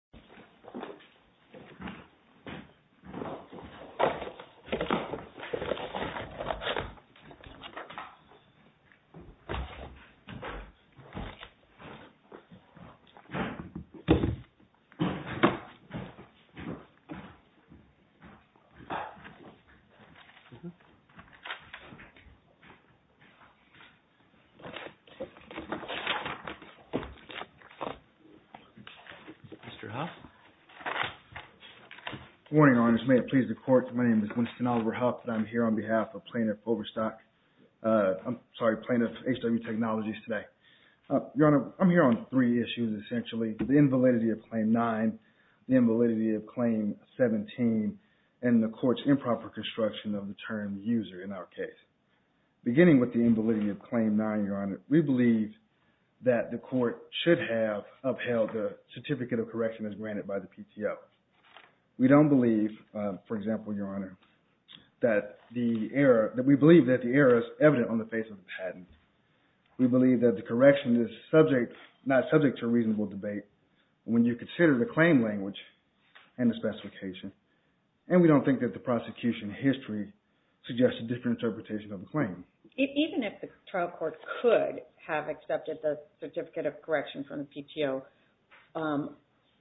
www.LRCgenerator.com Good morning, Your Honor. May it please the Court, my name is Winston Oliver Huff, and I'm here on behalf of plaintiff H-W Technologies today. Your Honor, I'm here on three issues, essentially. The invalidity of Claim 9, the invalidity of Claim 17, and the Court's improper construction of the term user in our case. Beginning with the invalidity of Claim 9, Your Honor, we believe that the Court should have upheld the certificate of correction as granted by the PTO. We don't believe, for example, Your Honor, that the error, that we believe that the error is evident on the face of the patent. We believe that the correction is subject, not subject to a reasonable debate when you consider the claim language and the specification. And we don't think that the prosecution history suggests a different interpretation of the claim. Even if the trial court could have accepted the certificate of correction from the PTO,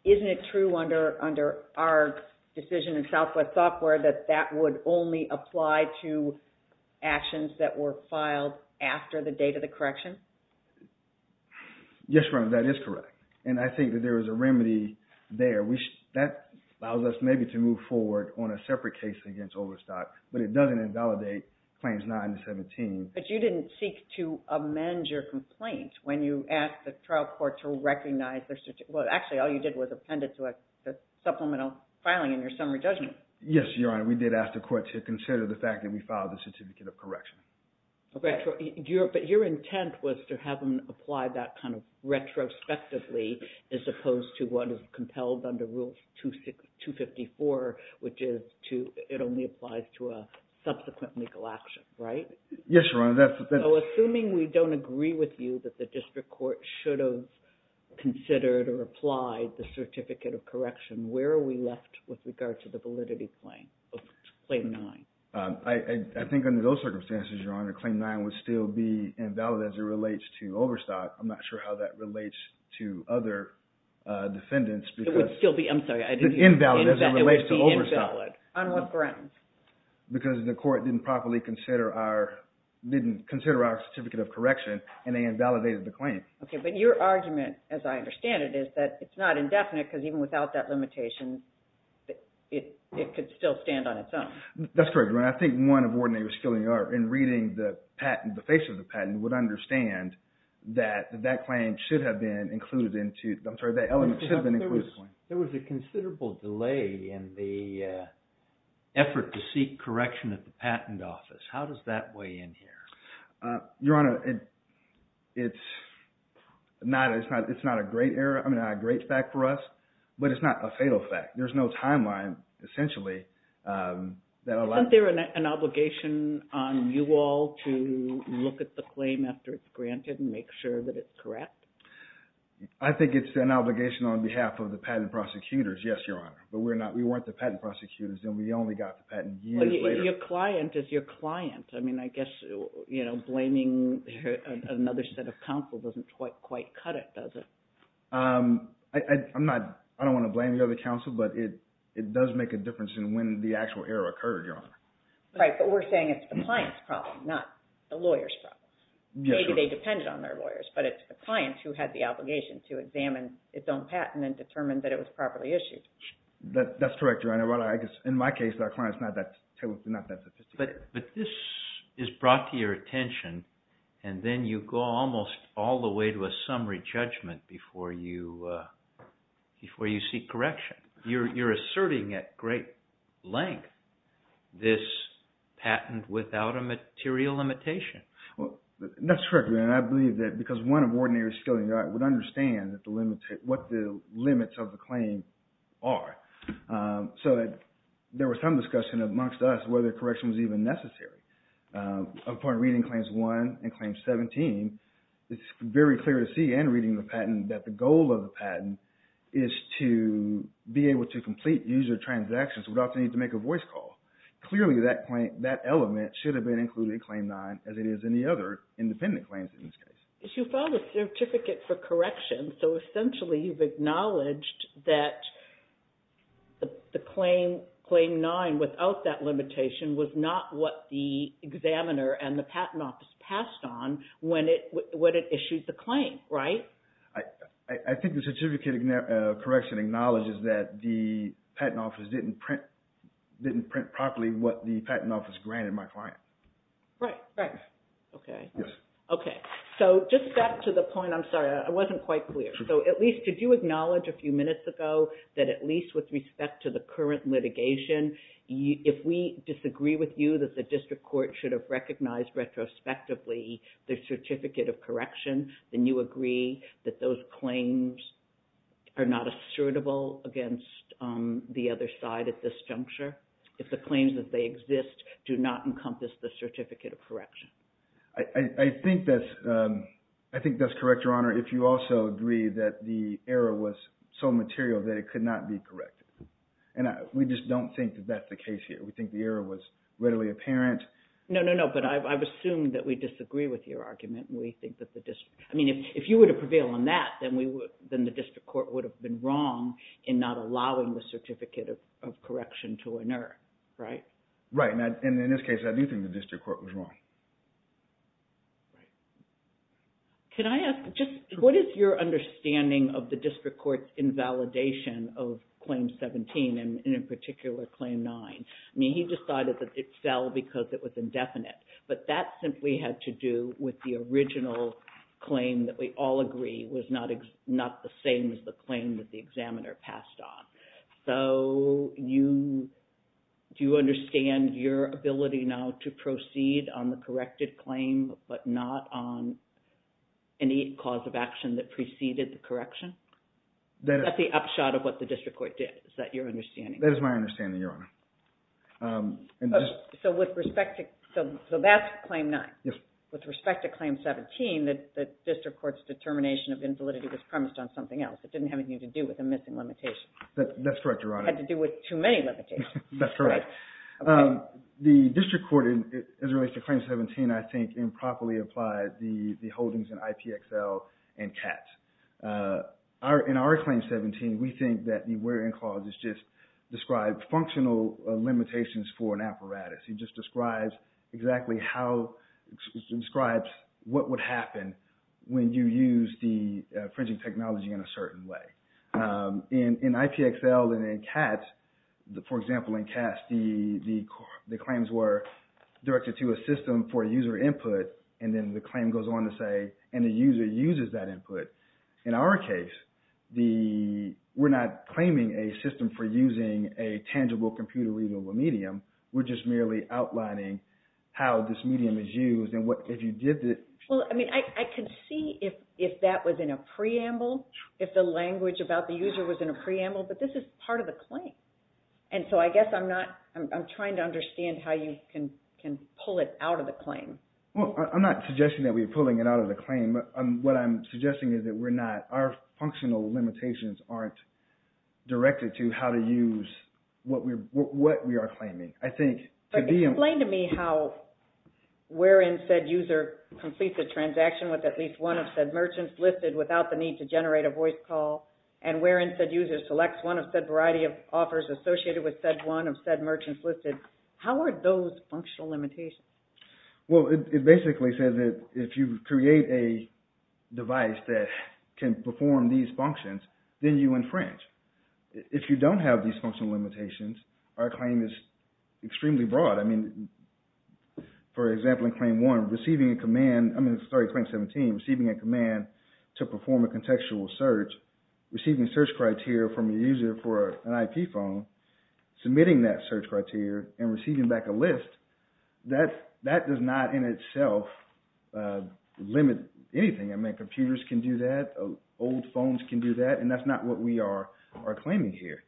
isn't it true under our decision in Southwest Software that that would only apply to actions that were filed after the date of the correction? Yes, Your Honor, that is correct. And I think that there is a remedy there. That allows us maybe to move forward on a separate case against Overstock, but it doesn't invalidate Claims 9 and 17. But you didn't seek to amend your complaint when you asked the trial court to recognize their – well, actually, all you did was append it to a supplemental filing in your summary judgment. Yes, Your Honor, we did ask the court to consider the fact that we filed the certificate of correction. But your intent was to have them apply that kind of retrospectively as opposed to what is compelled under Rule 254, which is to – it only applies to a subsequent legal action, right? Yes, Your Honor. So assuming we don't agree with you that the district court should have considered or applied the certificate of correction, where are we left with regard to the validity claim of Claim 9? I think under those circumstances, Your Honor, Claim 9 would still be invalid as it relates to Overstock. I'm not sure how that relates to other defendants. It would still be – I'm sorry. Invalid as it relates to Overstock. On what grounds? Because the court didn't properly consider our – didn't consider our certificate of correction, and they invalidated the claim. Okay, but your argument, as I understand it, is that it's not indefinite because even without that limitation, it could still stand on its own. That's correct, Your Honor. I think one of Warden Averskilling, in reading the patent, the face of the patent, would understand that that claim should have been included into – I'm sorry, that element should have been included. There was a considerable delay in the effort to seek correction at the patent office. How does that weigh in here? Your Honor, it's not a great error – I mean, not a great fact for us, but it's not a fatal fact. There's no timeline, essentially, that allows – Isn't there an obligation on you all to look at the claim after it's granted and make sure that it's correct? I think it's an obligation on behalf of the patent prosecutors, yes, Your Honor. But we're not – we weren't the patent prosecutors, and we only got the patent years later. But your client is your client. I mean, I guess blaming another set of counsel doesn't quite cut it, does it? I'm not – I don't want to blame the other counsel, but it does make a difference in when the actual error occurred, Your Honor. Right, but we're saying it's the client's problem, not the lawyer's problem. Maybe they depended on their lawyers, but it's the client who had the obligation to examine its own patent and determine that it was properly issued. That's correct, Your Honor. In my case, that client's not that sophisticated. But this is brought to your attention, and then you go almost all the way to a summary judgment before you seek correction. You're asserting at great length this patent without a material limitation. That's correct, Your Honor. I believe that because one of ordinary skilling would understand what the limits of the claim are. So there was some discussion amongst us whether correction was even necessary. Upon reading Claims 1 and Claims 17, it's very clear to see and reading the patent that the goal of the patent is to be able to complete user transactions without the need to make a voice call. Clearly, that element should have been included in Claim 9 as it is in the other independent claims in this case. You filed a certificate for correction, so essentially you've acknowledged that the Claim 9 without that limitation was not what the examiner and the patent office passed on when it issued the claim, right? I think the certificate of correction acknowledges that the patent office didn't print properly what the patent office granted my client. Right. Right. Okay. Okay. So just back to the point. I'm sorry. I wasn't quite clear. So at least did you acknowledge a few minutes ago that at least with respect to the current litigation, if we disagree with you that the district court should have recognized retrospectively the certificate of correction, then you agree that those claims are not assertable against the other side at this juncture? I think that's correct, Your Honor, if you also agree that the error was so material that it could not be corrected. And we just don't think that that's the case here. We think the error was readily apparent. No, no, no. But I've assumed that we disagree with your argument. We think that the district – I mean, if you were to prevail on that, then the district court would have been wrong in not allowing the certificate of correction to inert, right? Right. And in this case, I do think the district court was wrong. Right. Can I ask just what is your understanding of the district court's invalidation of Claim 17 and in particular Claim 9? I mean, he decided that it fell because it was indefinite. But that simply had to do with the original claim that we all agree was not the same as the claim that the examiner passed on. So you – do you understand your ability now to proceed on the corrected claim but not on any cause of action that preceded the correction? That's the upshot of what the district court did. Is that your understanding? That is my understanding, Your Honor. So with respect to – so that's Claim 9. Yes. With respect to Claim 17, the district court's determination of invalidity was premised on something else. It didn't have anything to do with a missing limitation. That's correct, Your Honor. It had to do with too many limitations. That's correct. The district court, as it relates to Claim 17, I think improperly applied the holdings in IPXL and CATS. In our Claim 17, we think that the where-in clause is just described functional limitations for an apparatus. It just describes exactly how – describes what would happen when you use the fringing technology in a certain way. In IPXL and in CATS, for example, in CATS, the claims were directed to a system for user input, and then the claim goes on to say, and the user uses that input. In our case, we're not claiming a system for using a tangible computer-readable medium. We're just merely outlining how this medium is used and what – if you did the – Well, I mean, I could see if that was in a preamble, if the language about the user was in a preamble, but this is part of the claim. And so I guess I'm not – I'm trying to understand how you can pull it out of the claim. Well, I'm not suggesting that we're pulling it out of the claim. What I'm suggesting is that we're not. Our functional limitations aren't directed to how to use what we are claiming. I think to be – Explain to me how where-in said user completes a transaction with at least one of said merchants listed without the need to generate a voice call, and where-in said user selects one of said variety of offers associated with said one of said merchants listed. How are those functional limitations? Well, it basically says that if you create a device that can perform these functions, then you infringe. If you don't have these functional limitations, our claim is extremely broad. I mean, for example, in Claim 1, receiving a command – I'm sorry, Claim 17, receiving a command to perform a contextual search, receiving search criteria from a user for an IP phone, submitting that search criteria, and receiving back a list, that does not in itself limit anything. I mean, computers can do that. Old phones can do that. And that's not what we are claiming here.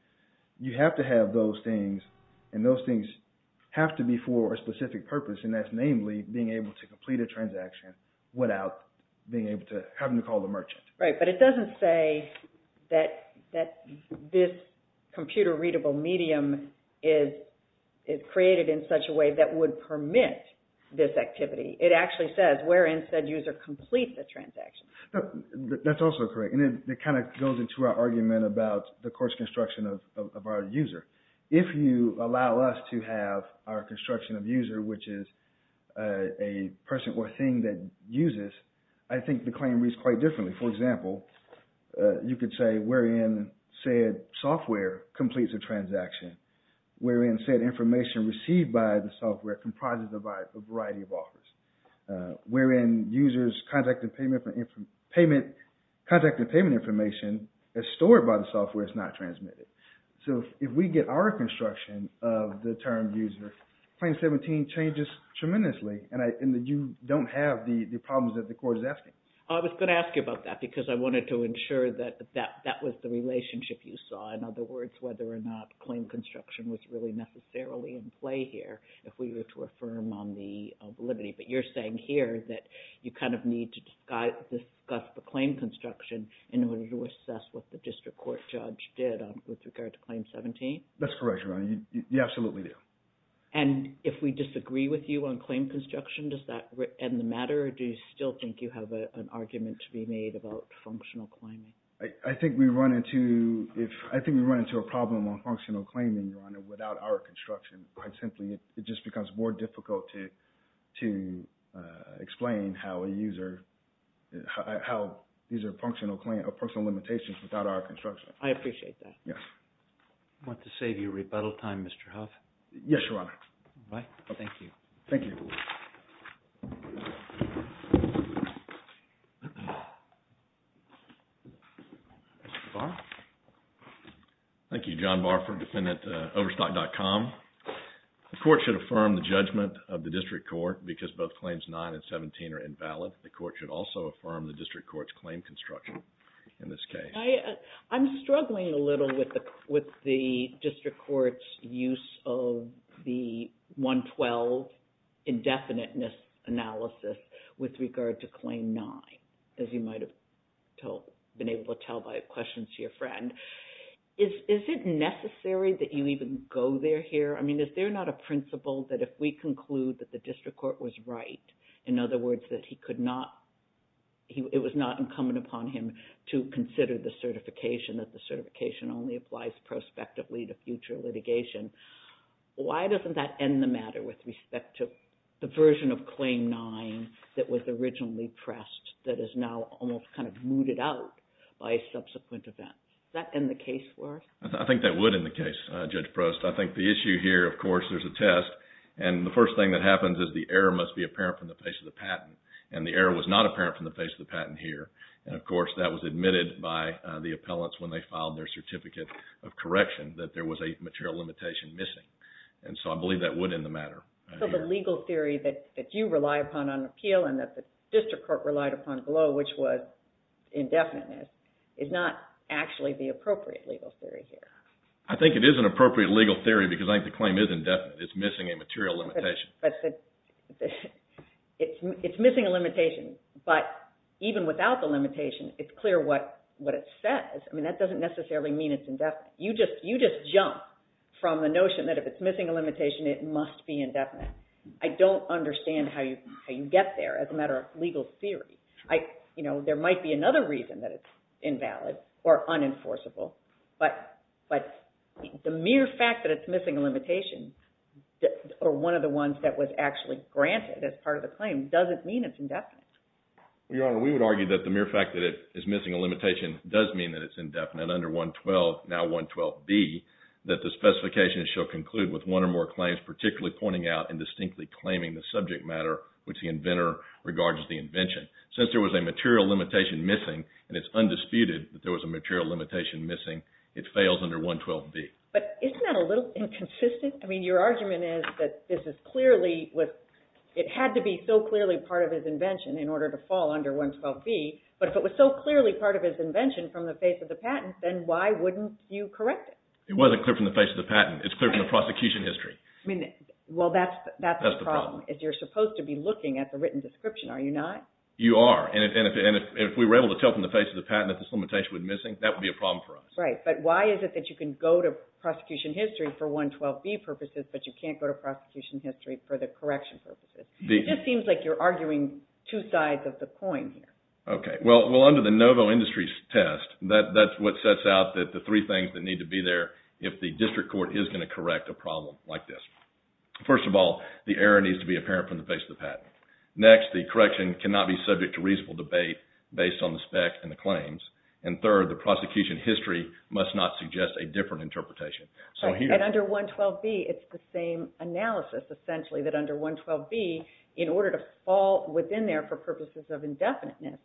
You have to have those things, and those things have to be for a specific purpose, and that's namely being able to complete a transaction without having to call the merchant. Right, but it doesn't say that this computer-readable medium is created in such a way that would permit this activity. It actually says where-in said user completes the transaction. That's also correct, and it kind of goes into our argument about the course construction of our user. If you allow us to have our construction of user, which is a person or thing that uses, I think the claim reads quite differently. For example, you could say where-in said software completes a transaction, where-in said information received by the software comprises a variety of offers, where-in user's contact and payment information is stored by the software, it's not transmitted. So if we get our construction of the term user, Claim 17 changes tremendously, and you don't have the problems that the court is asking. I was going to ask you about that because I wanted to ensure that that was the relationship you saw. In other words, whether or not claim construction was really necessarily in play here if we were to affirm on the validity. But you're saying here that you kind of need to discuss the claim construction in order to assess what the district court judge did with regard to Claim 17? That's correct, Your Honor. You absolutely do. And if we disagree with you on claim construction, does that end the matter, or do you still think you have an argument to be made about functional claiming? I think we run into a problem on functional claiming, Your Honor, without our construction. Quite simply, it just becomes more difficult to explain how user functional limitations without our construction. I appreciate that. Yes. I want to save you rebuttal time, Mr. Huff. Yes, Your Honor. Thank you. Thank you. Mr. Barr? Thank you, John Barr from defendantoverstock.com. The court should affirm the judgment of the district court because both Claims 9 and 17 are invalid. The court should also affirm the district court's claim construction in this case. I'm struggling a little with the district court's use of the 112 indefiniteness analysis with regard to Claim 9, as you might have been able to tell by questions to your friend. Is it necessary that you even go there here? I mean, is there not a principle that if we conclude that the district court was right, in other words, that it was not incumbent upon him to consider the certification, that the certification only applies prospectively to future litigation, why doesn't that end the matter with respect to the version of Claim 9 that was originally pressed, that is now almost kind of mooted out by subsequent events? Does that end the case for us? I think that would end the case, Judge Prost. I think the issue here, of course, there's a test, and the first thing that happens is the error must be apparent from the face of the patent, and the error was not apparent from the face of the patent here. And, of course, that was admitted by the appellants when they filed their certificate of correction, that there was a material limitation missing. And so I believe that would end the matter. So the legal theory that you rely upon on appeal and that the district court relied upon below, which was indefiniteness, is not actually the appropriate legal theory here? I think it is an appropriate legal theory because I think the claim is indefinite. It's missing a material limitation. It's missing a limitation, but even without the limitation, it's clear what it says. I mean, that doesn't necessarily mean it's indefinite. You just jump from the notion that if it's missing a limitation, it must be indefinite. I don't understand how you get there as a matter of legal theory. There might be another reason that it's invalid or unenforceable, but the mere fact that it's missing a limitation or one of the ones that was actually granted as part of the claim doesn't mean it's indefinite. Your Honor, we would argue that the mere fact that it is missing a limitation does mean that it's indefinite under 112, now 112B, that the specification shall conclude with one or more claims particularly pointing out and distinctly claiming the subject matter which the inventor regards as the invention. Since there was a material limitation missing, and it's undisputed that there was a material limitation missing, it fails under 112B. But isn't that a little inconsistent? I mean, your argument is that it had to be so clearly part of his invention in order to fall under 112B, but if it was so clearly part of his invention from the face of the patent, then why wouldn't you correct it? It wasn't clear from the face of the patent. It's clear from the prosecution history. I mean, well, that's the problem. That's the problem. You're supposed to be looking at the written description, are you not? You are. And if we were able to tell from the face of the patent that this limitation was missing, that would be a problem for us. Right. But why is it that you can go to prosecution history for 112B purposes, but you can't go to prosecution history for the correction purposes? It just seems like you're arguing two sides of the coin here. Okay. Well, under the Novo Industries test, that's what sets out the three things that need to be there if the district court is going to correct a problem like this. First of all, the error needs to be apparent from the face of the patent. Next, the correction cannot be subject to reasonable debate based on the spec and the claims. And third, the prosecution history must not suggest a different interpretation. And under 112B, it's the same analysis, essentially, that under 112B, in order to fall within there for purposes of indefiniteness,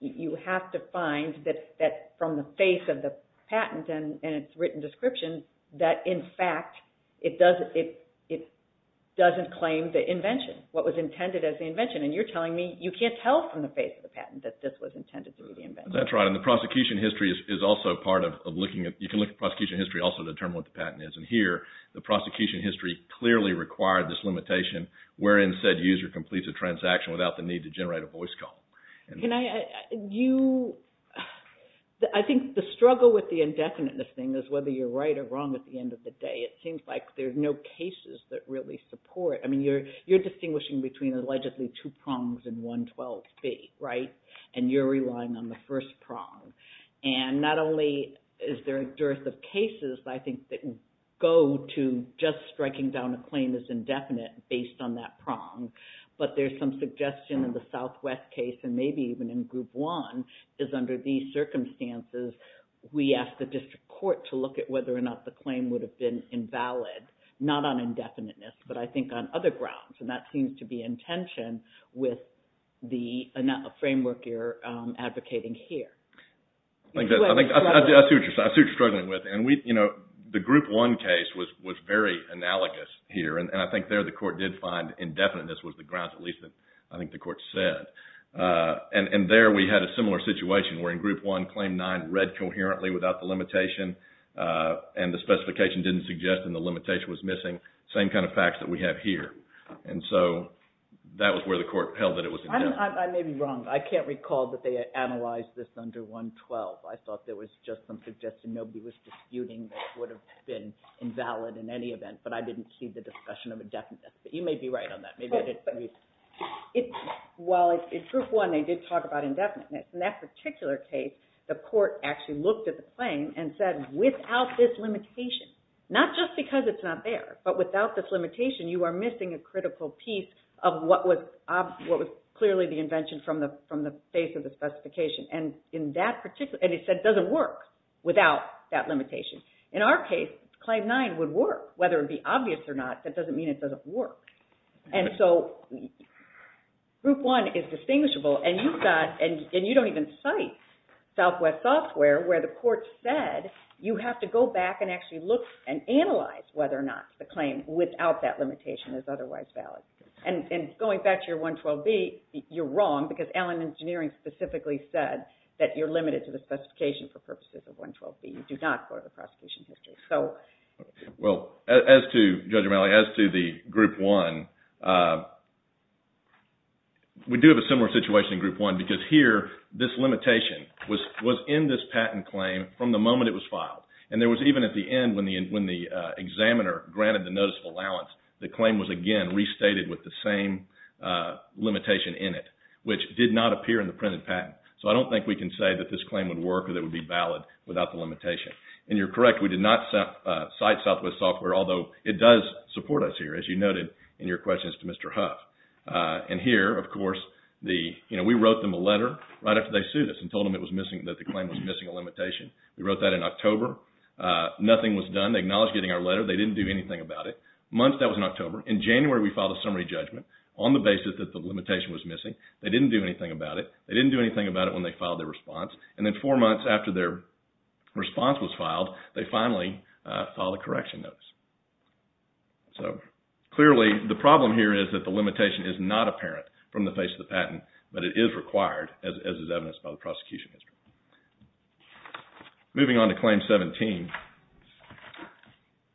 you have to find that from the face of the patent and its written description, that, in fact, it doesn't claim the invention. What was intended as the invention. And you're telling me you can't tell from the face of the patent that this was intended to be the invention. That's right. And the prosecution history is also part of looking at – you can look at prosecution history also to determine what the patent is. And here, the prosecution history clearly required this limitation wherein said user completes a transaction without the need to generate a voice call. Can I – you – I think the struggle with the indefiniteness thing is whether you're right or wrong at the end of the day. It seems like there's no cases that really support. I mean, you're distinguishing between allegedly two prongs in 112B, right? And you're relying on the first prong. And not only is there a dearth of cases, I think, that go to just striking down a claim that's indefinite based on that prong. But there's some suggestion in the Southwest case, and maybe even in Group 1, is under these circumstances, we ask the district court to look at whether or not the claim would have been invalid. Not on indefiniteness, but I think on other grounds. And that seems to be in tension with the framework you're advocating here. I think that's – I see what you're struggling with. And we – you know, the Group 1 case was very analogous here. And I think there the court did find indefiniteness was the grounds, at least I think the court said. And there we had a similar situation wherein Group 1 Claim 9 read coherently without the limitation. And the specification didn't suggest and the limitation was missing. Same kind of facts that we have here. And so that was where the court held that it was indefinite. I may be wrong. I can't recall that they analyzed this under 112. I thought there was just some suggestion. Nobody was disputing that it would have been invalid in any event. But I didn't see the discussion of indefiniteness. But you may be right on that. Well, in Group 1, they did talk about indefiniteness. In that particular case, the court actually looked at the claim and said without this limitation, not just because it's not there, but without this limitation, you are missing a critical piece of what was clearly the invention from the face of the specification. And in that particular – and it said it doesn't work without that limitation. In our case, Claim 9 would work. Whether it would be obvious or not, that doesn't mean it doesn't work. And so Group 1 is distinguishable. And you've got – and you don't even cite Southwest Software where the court said you have to go back and actually look and analyze whether or not the claim without that limitation is otherwise valid. And going back to your 112B, you're wrong because Allen Engineering specifically said that you're limited to the specification for purposes of 112B. You do not go to the prosecution history. Well, as to Judge O'Malley, as to the Group 1, we do have a similar situation in Group 1 because here, this limitation was in this patent claim from the moment it was filed. And there was even at the end when the examiner granted the notice of allowance, the claim was again restated with the same limitation in it, which did not appear in the printed patent. So I don't think we can say that this claim would work or that it would be valid without the limitation. And you're correct, we did not cite Southwest Software, although it does support us here, as you noted in your questions to Mr. Huff. And here, of course, we wrote them a letter right after they sued us and told them that the claim was missing a limitation. We wrote that in October. Nothing was done. They acknowledged getting our letter. They didn't do anything about it. Months, that was in October. In January, we filed a summary judgment on the basis that the limitation was missing. They didn't do anything about it. They didn't do anything about it when they filed their response. And then four months after their response was filed, they finally filed a correction notice. So clearly, the problem here is that the limitation is not apparent from the face of the patent, but it is required, as is evidenced by the prosecution history. Moving on to Claim 17.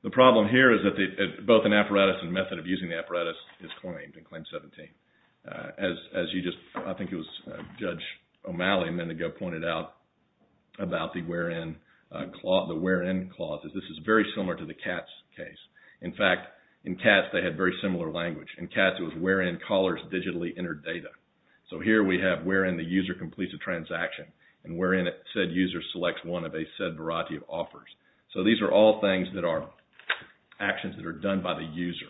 The problem here is that both an apparatus and method of using the apparatus is claimed in Claim 17. As you just, I think it was Judge O'Malley a minute ago, pointed out about the where-in clause. This is very similar to the CATS case. In fact, in CATS, they had very similar language. In CATS, it was where-in callers digitally entered data. So here we have where-in the user completes a transaction and where-in said user selects one of a said variety of offers. So these are all things that are actions that are done by the user,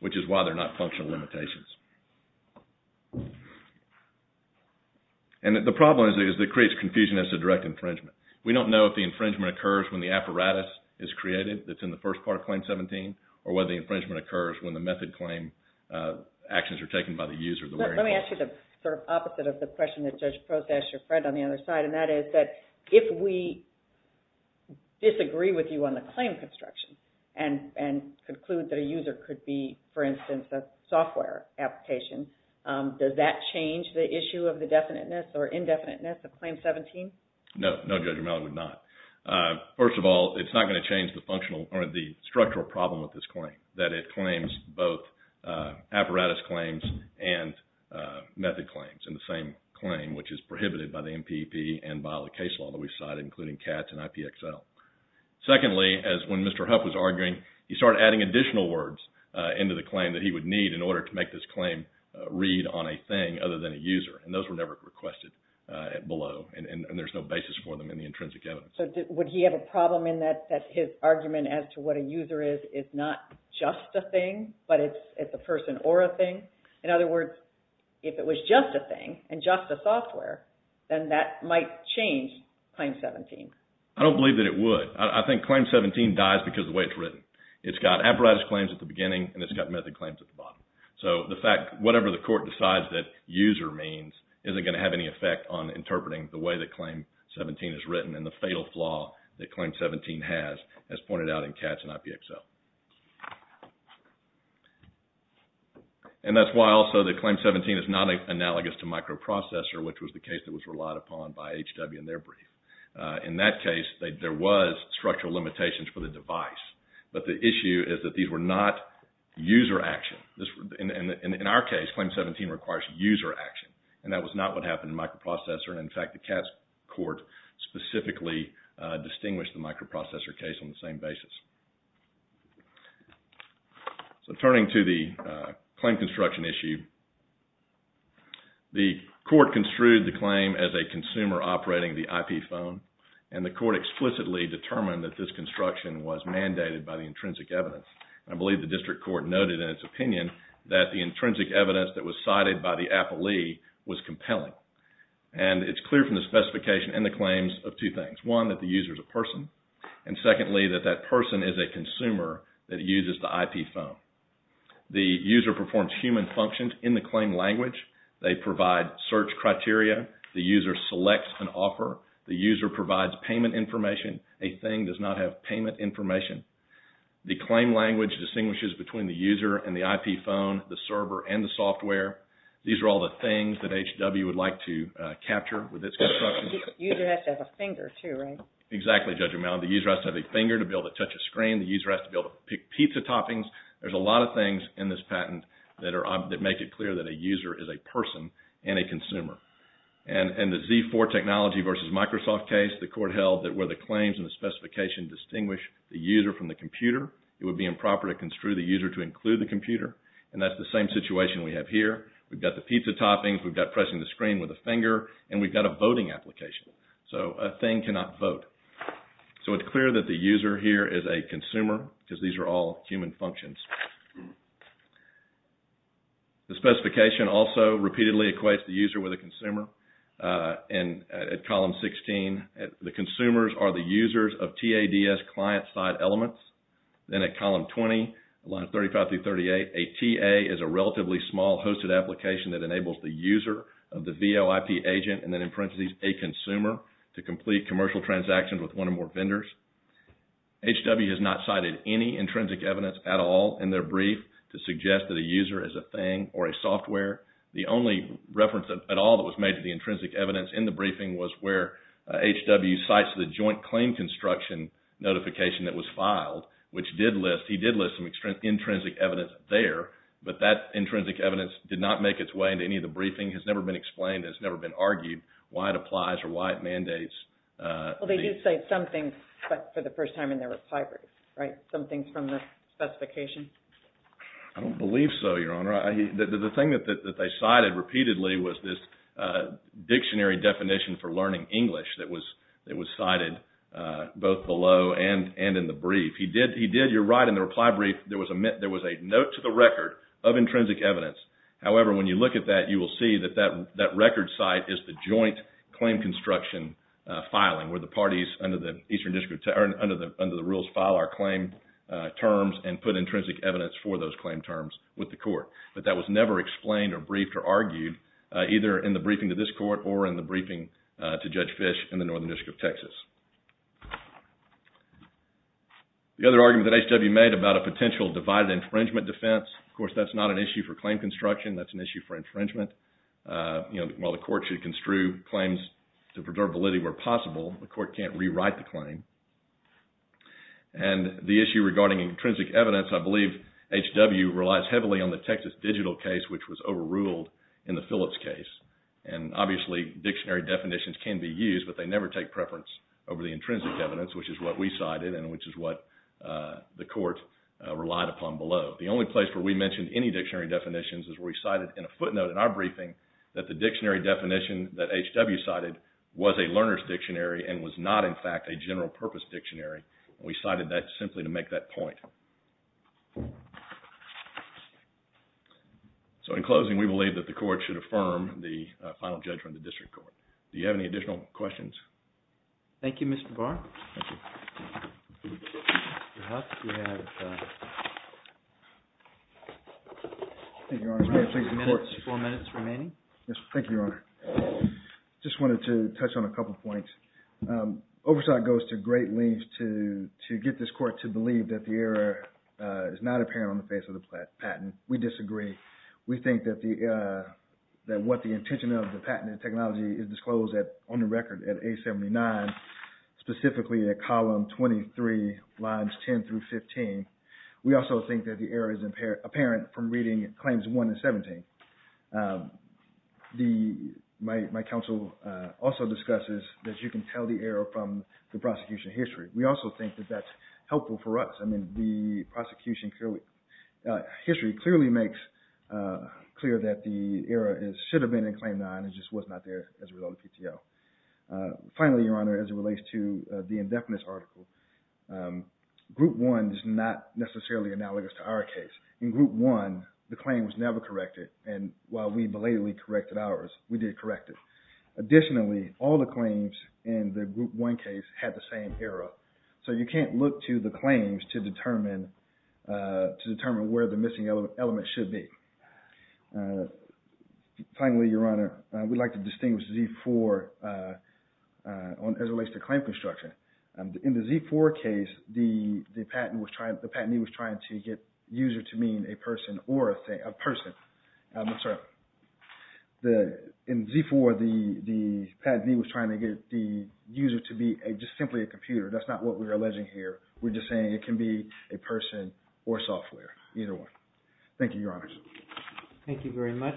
which is why they're not functional limitations. And the problem is that it creates confusion as to direct infringement. We don't know if the infringement occurs when the apparatus is created that's in the first part of Claim 17 or whether the infringement occurs when the method claim actions are taken by the user, the where-in clause. Let me ask you the sort of opposite of the question that Judge Prost asked your friend on the other side, and that is that if we disagree with you on the claim construction and conclude that a user could be, for instance, a software application, does that change the issue of the definiteness or indefiniteness of Claim 17? No. No, Judge Romano would not. First of all, it's not going to change the functional or the structural problem with this claim, that it claims both apparatus claims and method claims in the same claim, which is prohibited by the MPP and by the case law that we've cited, including CATS and IPXL. Secondly, as when Mr. Huff was arguing, he started adding additional words into the claim that he would need in order to make this claim read on a thing other than a user, and those were never requested below. And there's no basis for them in the intrinsic evidence. So would he have a problem in that his argument as to what a user is is not just a thing, but it's a person or a thing? In other words, if it was just a thing and just a software, then that might change Claim 17. I don't believe that it would. I think Claim 17 dies because of the way it's written. It's got apparatus claims at the beginning, and it's got method claims at the bottom. So the fact, whatever the court decides that user means isn't going to have any effect on interpreting the way that Claim 17 is written and the fatal flaw that Claim 17 has, as pointed out in CATS and IPXL. And that's why also that Claim 17 is not analogous to microprocessor, which was the case that was relied upon by HW in their brief. In that case, there was structural limitations for the device, but the issue is that these were not user action. In our case, Claim 17 requires user action, and that was not what happened in microprocessor. In fact, the CATS court specifically distinguished the microprocessor case on the same basis. So turning to the claim construction issue, the court construed the claim as a consumer operating the IP phone, and the court explicitly determined that this construction was mandated by the intrinsic evidence. I believe the district court noted in its opinion that the intrinsic evidence that was cited by the appellee was compelling. And it's clear from the specification and the claims of two things. One, that the user is a person. And secondly, that that person is a consumer that uses the IP phone. The user performs human functions in the claim language. They provide search criteria. The user selects an offer. The user provides payment information. A thing does not have payment information. The claim language distinguishes between the user and the IP phone, the server, and the software. These are all the things that HW would like to capture with this construction. The user has to have a finger too, right? Exactly, Judge O'Malley. The user has to have a finger to be able to touch a screen. The user has to be able to pick pizza toppings. There's a lot of things in this patent that make it clear that a user is a person and a consumer. And the Z4 technology versus Microsoft case, the court held that where the claims and the specification distinguish the user from the computer, it would be improper to construe the user to include the computer. And that's the same situation we have here. We've got the pizza toppings. We've got pressing the screen with a finger. And we've got a voting application. So, a thing cannot vote. So, it's clear that the user here is a consumer because these are all human functions. The specification also repeatedly equates the user with a consumer. And at column 16, the consumers are the users of TADS client-side elements. Then at column 20, lines 35 through 38, a TA is a relatively small hosted application that enables the user of the VOIP agent, and then in parentheses, a consumer, to complete commercial transactions with one or more vendors. HW has not cited any intrinsic evidence at all in their brief to suggest that a user is a thing or a software. The only reference at all that was made to the intrinsic evidence in the briefing was where HW cites the joint claim construction notification that was filed, which did list, he did list some intrinsic evidence there, but that intrinsic evidence did not make its way into any of the briefing, has never been explained, has never been argued why it applies or why it mandates. Well, they do say something, but for the first time in their reply brief, right? Something from the specification? I don't believe so, Your Honor. The thing that they cited repeatedly was this dictionary definition for learning English that was cited both below and in the brief. He did, you're right, in the reply brief, there was a note to the record of intrinsic evidence. However, when you look at that, you will see that that record site is the joint claim construction filing, where the parties under the rules file our claim terms and put intrinsic evidence for those claim terms with the court. But that was never explained or briefed or argued, either in the briefing to this court or in the briefing to Judge Fish in the Northern District of Texas. The other argument that HW made about a potential divided infringement defense, of course, that's not an issue for claim construction, that's an issue for infringement. While the court should construe claims to preserve validity where possible, the court can't rewrite the claim. And the issue regarding intrinsic evidence, I believe HW relies heavily on the Texas Digital case, which was overruled in the Phillips case. And obviously dictionary definitions can be used, but they never take preference over the intrinsic evidence, which is what we cited and which is what the court relied upon below. The only place where we mentioned any dictionary definitions is where we cited in a footnote in our briefing that the dictionary definition that HW cited was a learner's dictionary and was not, in fact, a general purpose dictionary. We cited that simply to make that point. So in closing, we believe that the court should affirm the final judgment of the district court. Do you have any additional questions? Thank you, Mr. Barr. Four minutes remaining. Thank you, Your Honor. Just wanted to touch on a couple points. Oversight goes to great lengths to get this court to believe that the error is not apparent on the face of the patent. We disagree. We think that what the intention of the patent and technology is disclosed on the record at A79, specifically at column 23, lines 10 through 15. We also think that the error is apparent from reading claims 1 and 17. My counsel also discusses that you can tell the error from the prosecution history. We also think that that's helpful for us. I mean, the prosecution history clearly makes clear that the error should have been in claim 9 and just was not there as a result of PTO. Finally, Your Honor, as it relates to the indefinite article, group 1 is not necessarily analogous to our case. In group 1, the claim was never corrected and while we belatedly corrected ours, we did correct it. Additionally, all the claims in the group 1 case had the same error. So you can't look to the claims to determine where the missing element should be. Finally, Your Honor, we'd like to distinguish Z4 as it relates to claim construction. In the Z4 case, the patentee was trying to get user to mean a person or a person. In Z4, the patentee was trying to get the user to be just simply a computer. That's not what we're alleging here. We're just saying it can be a person or software, either one. Thank you, Your Honor. Thank you very much.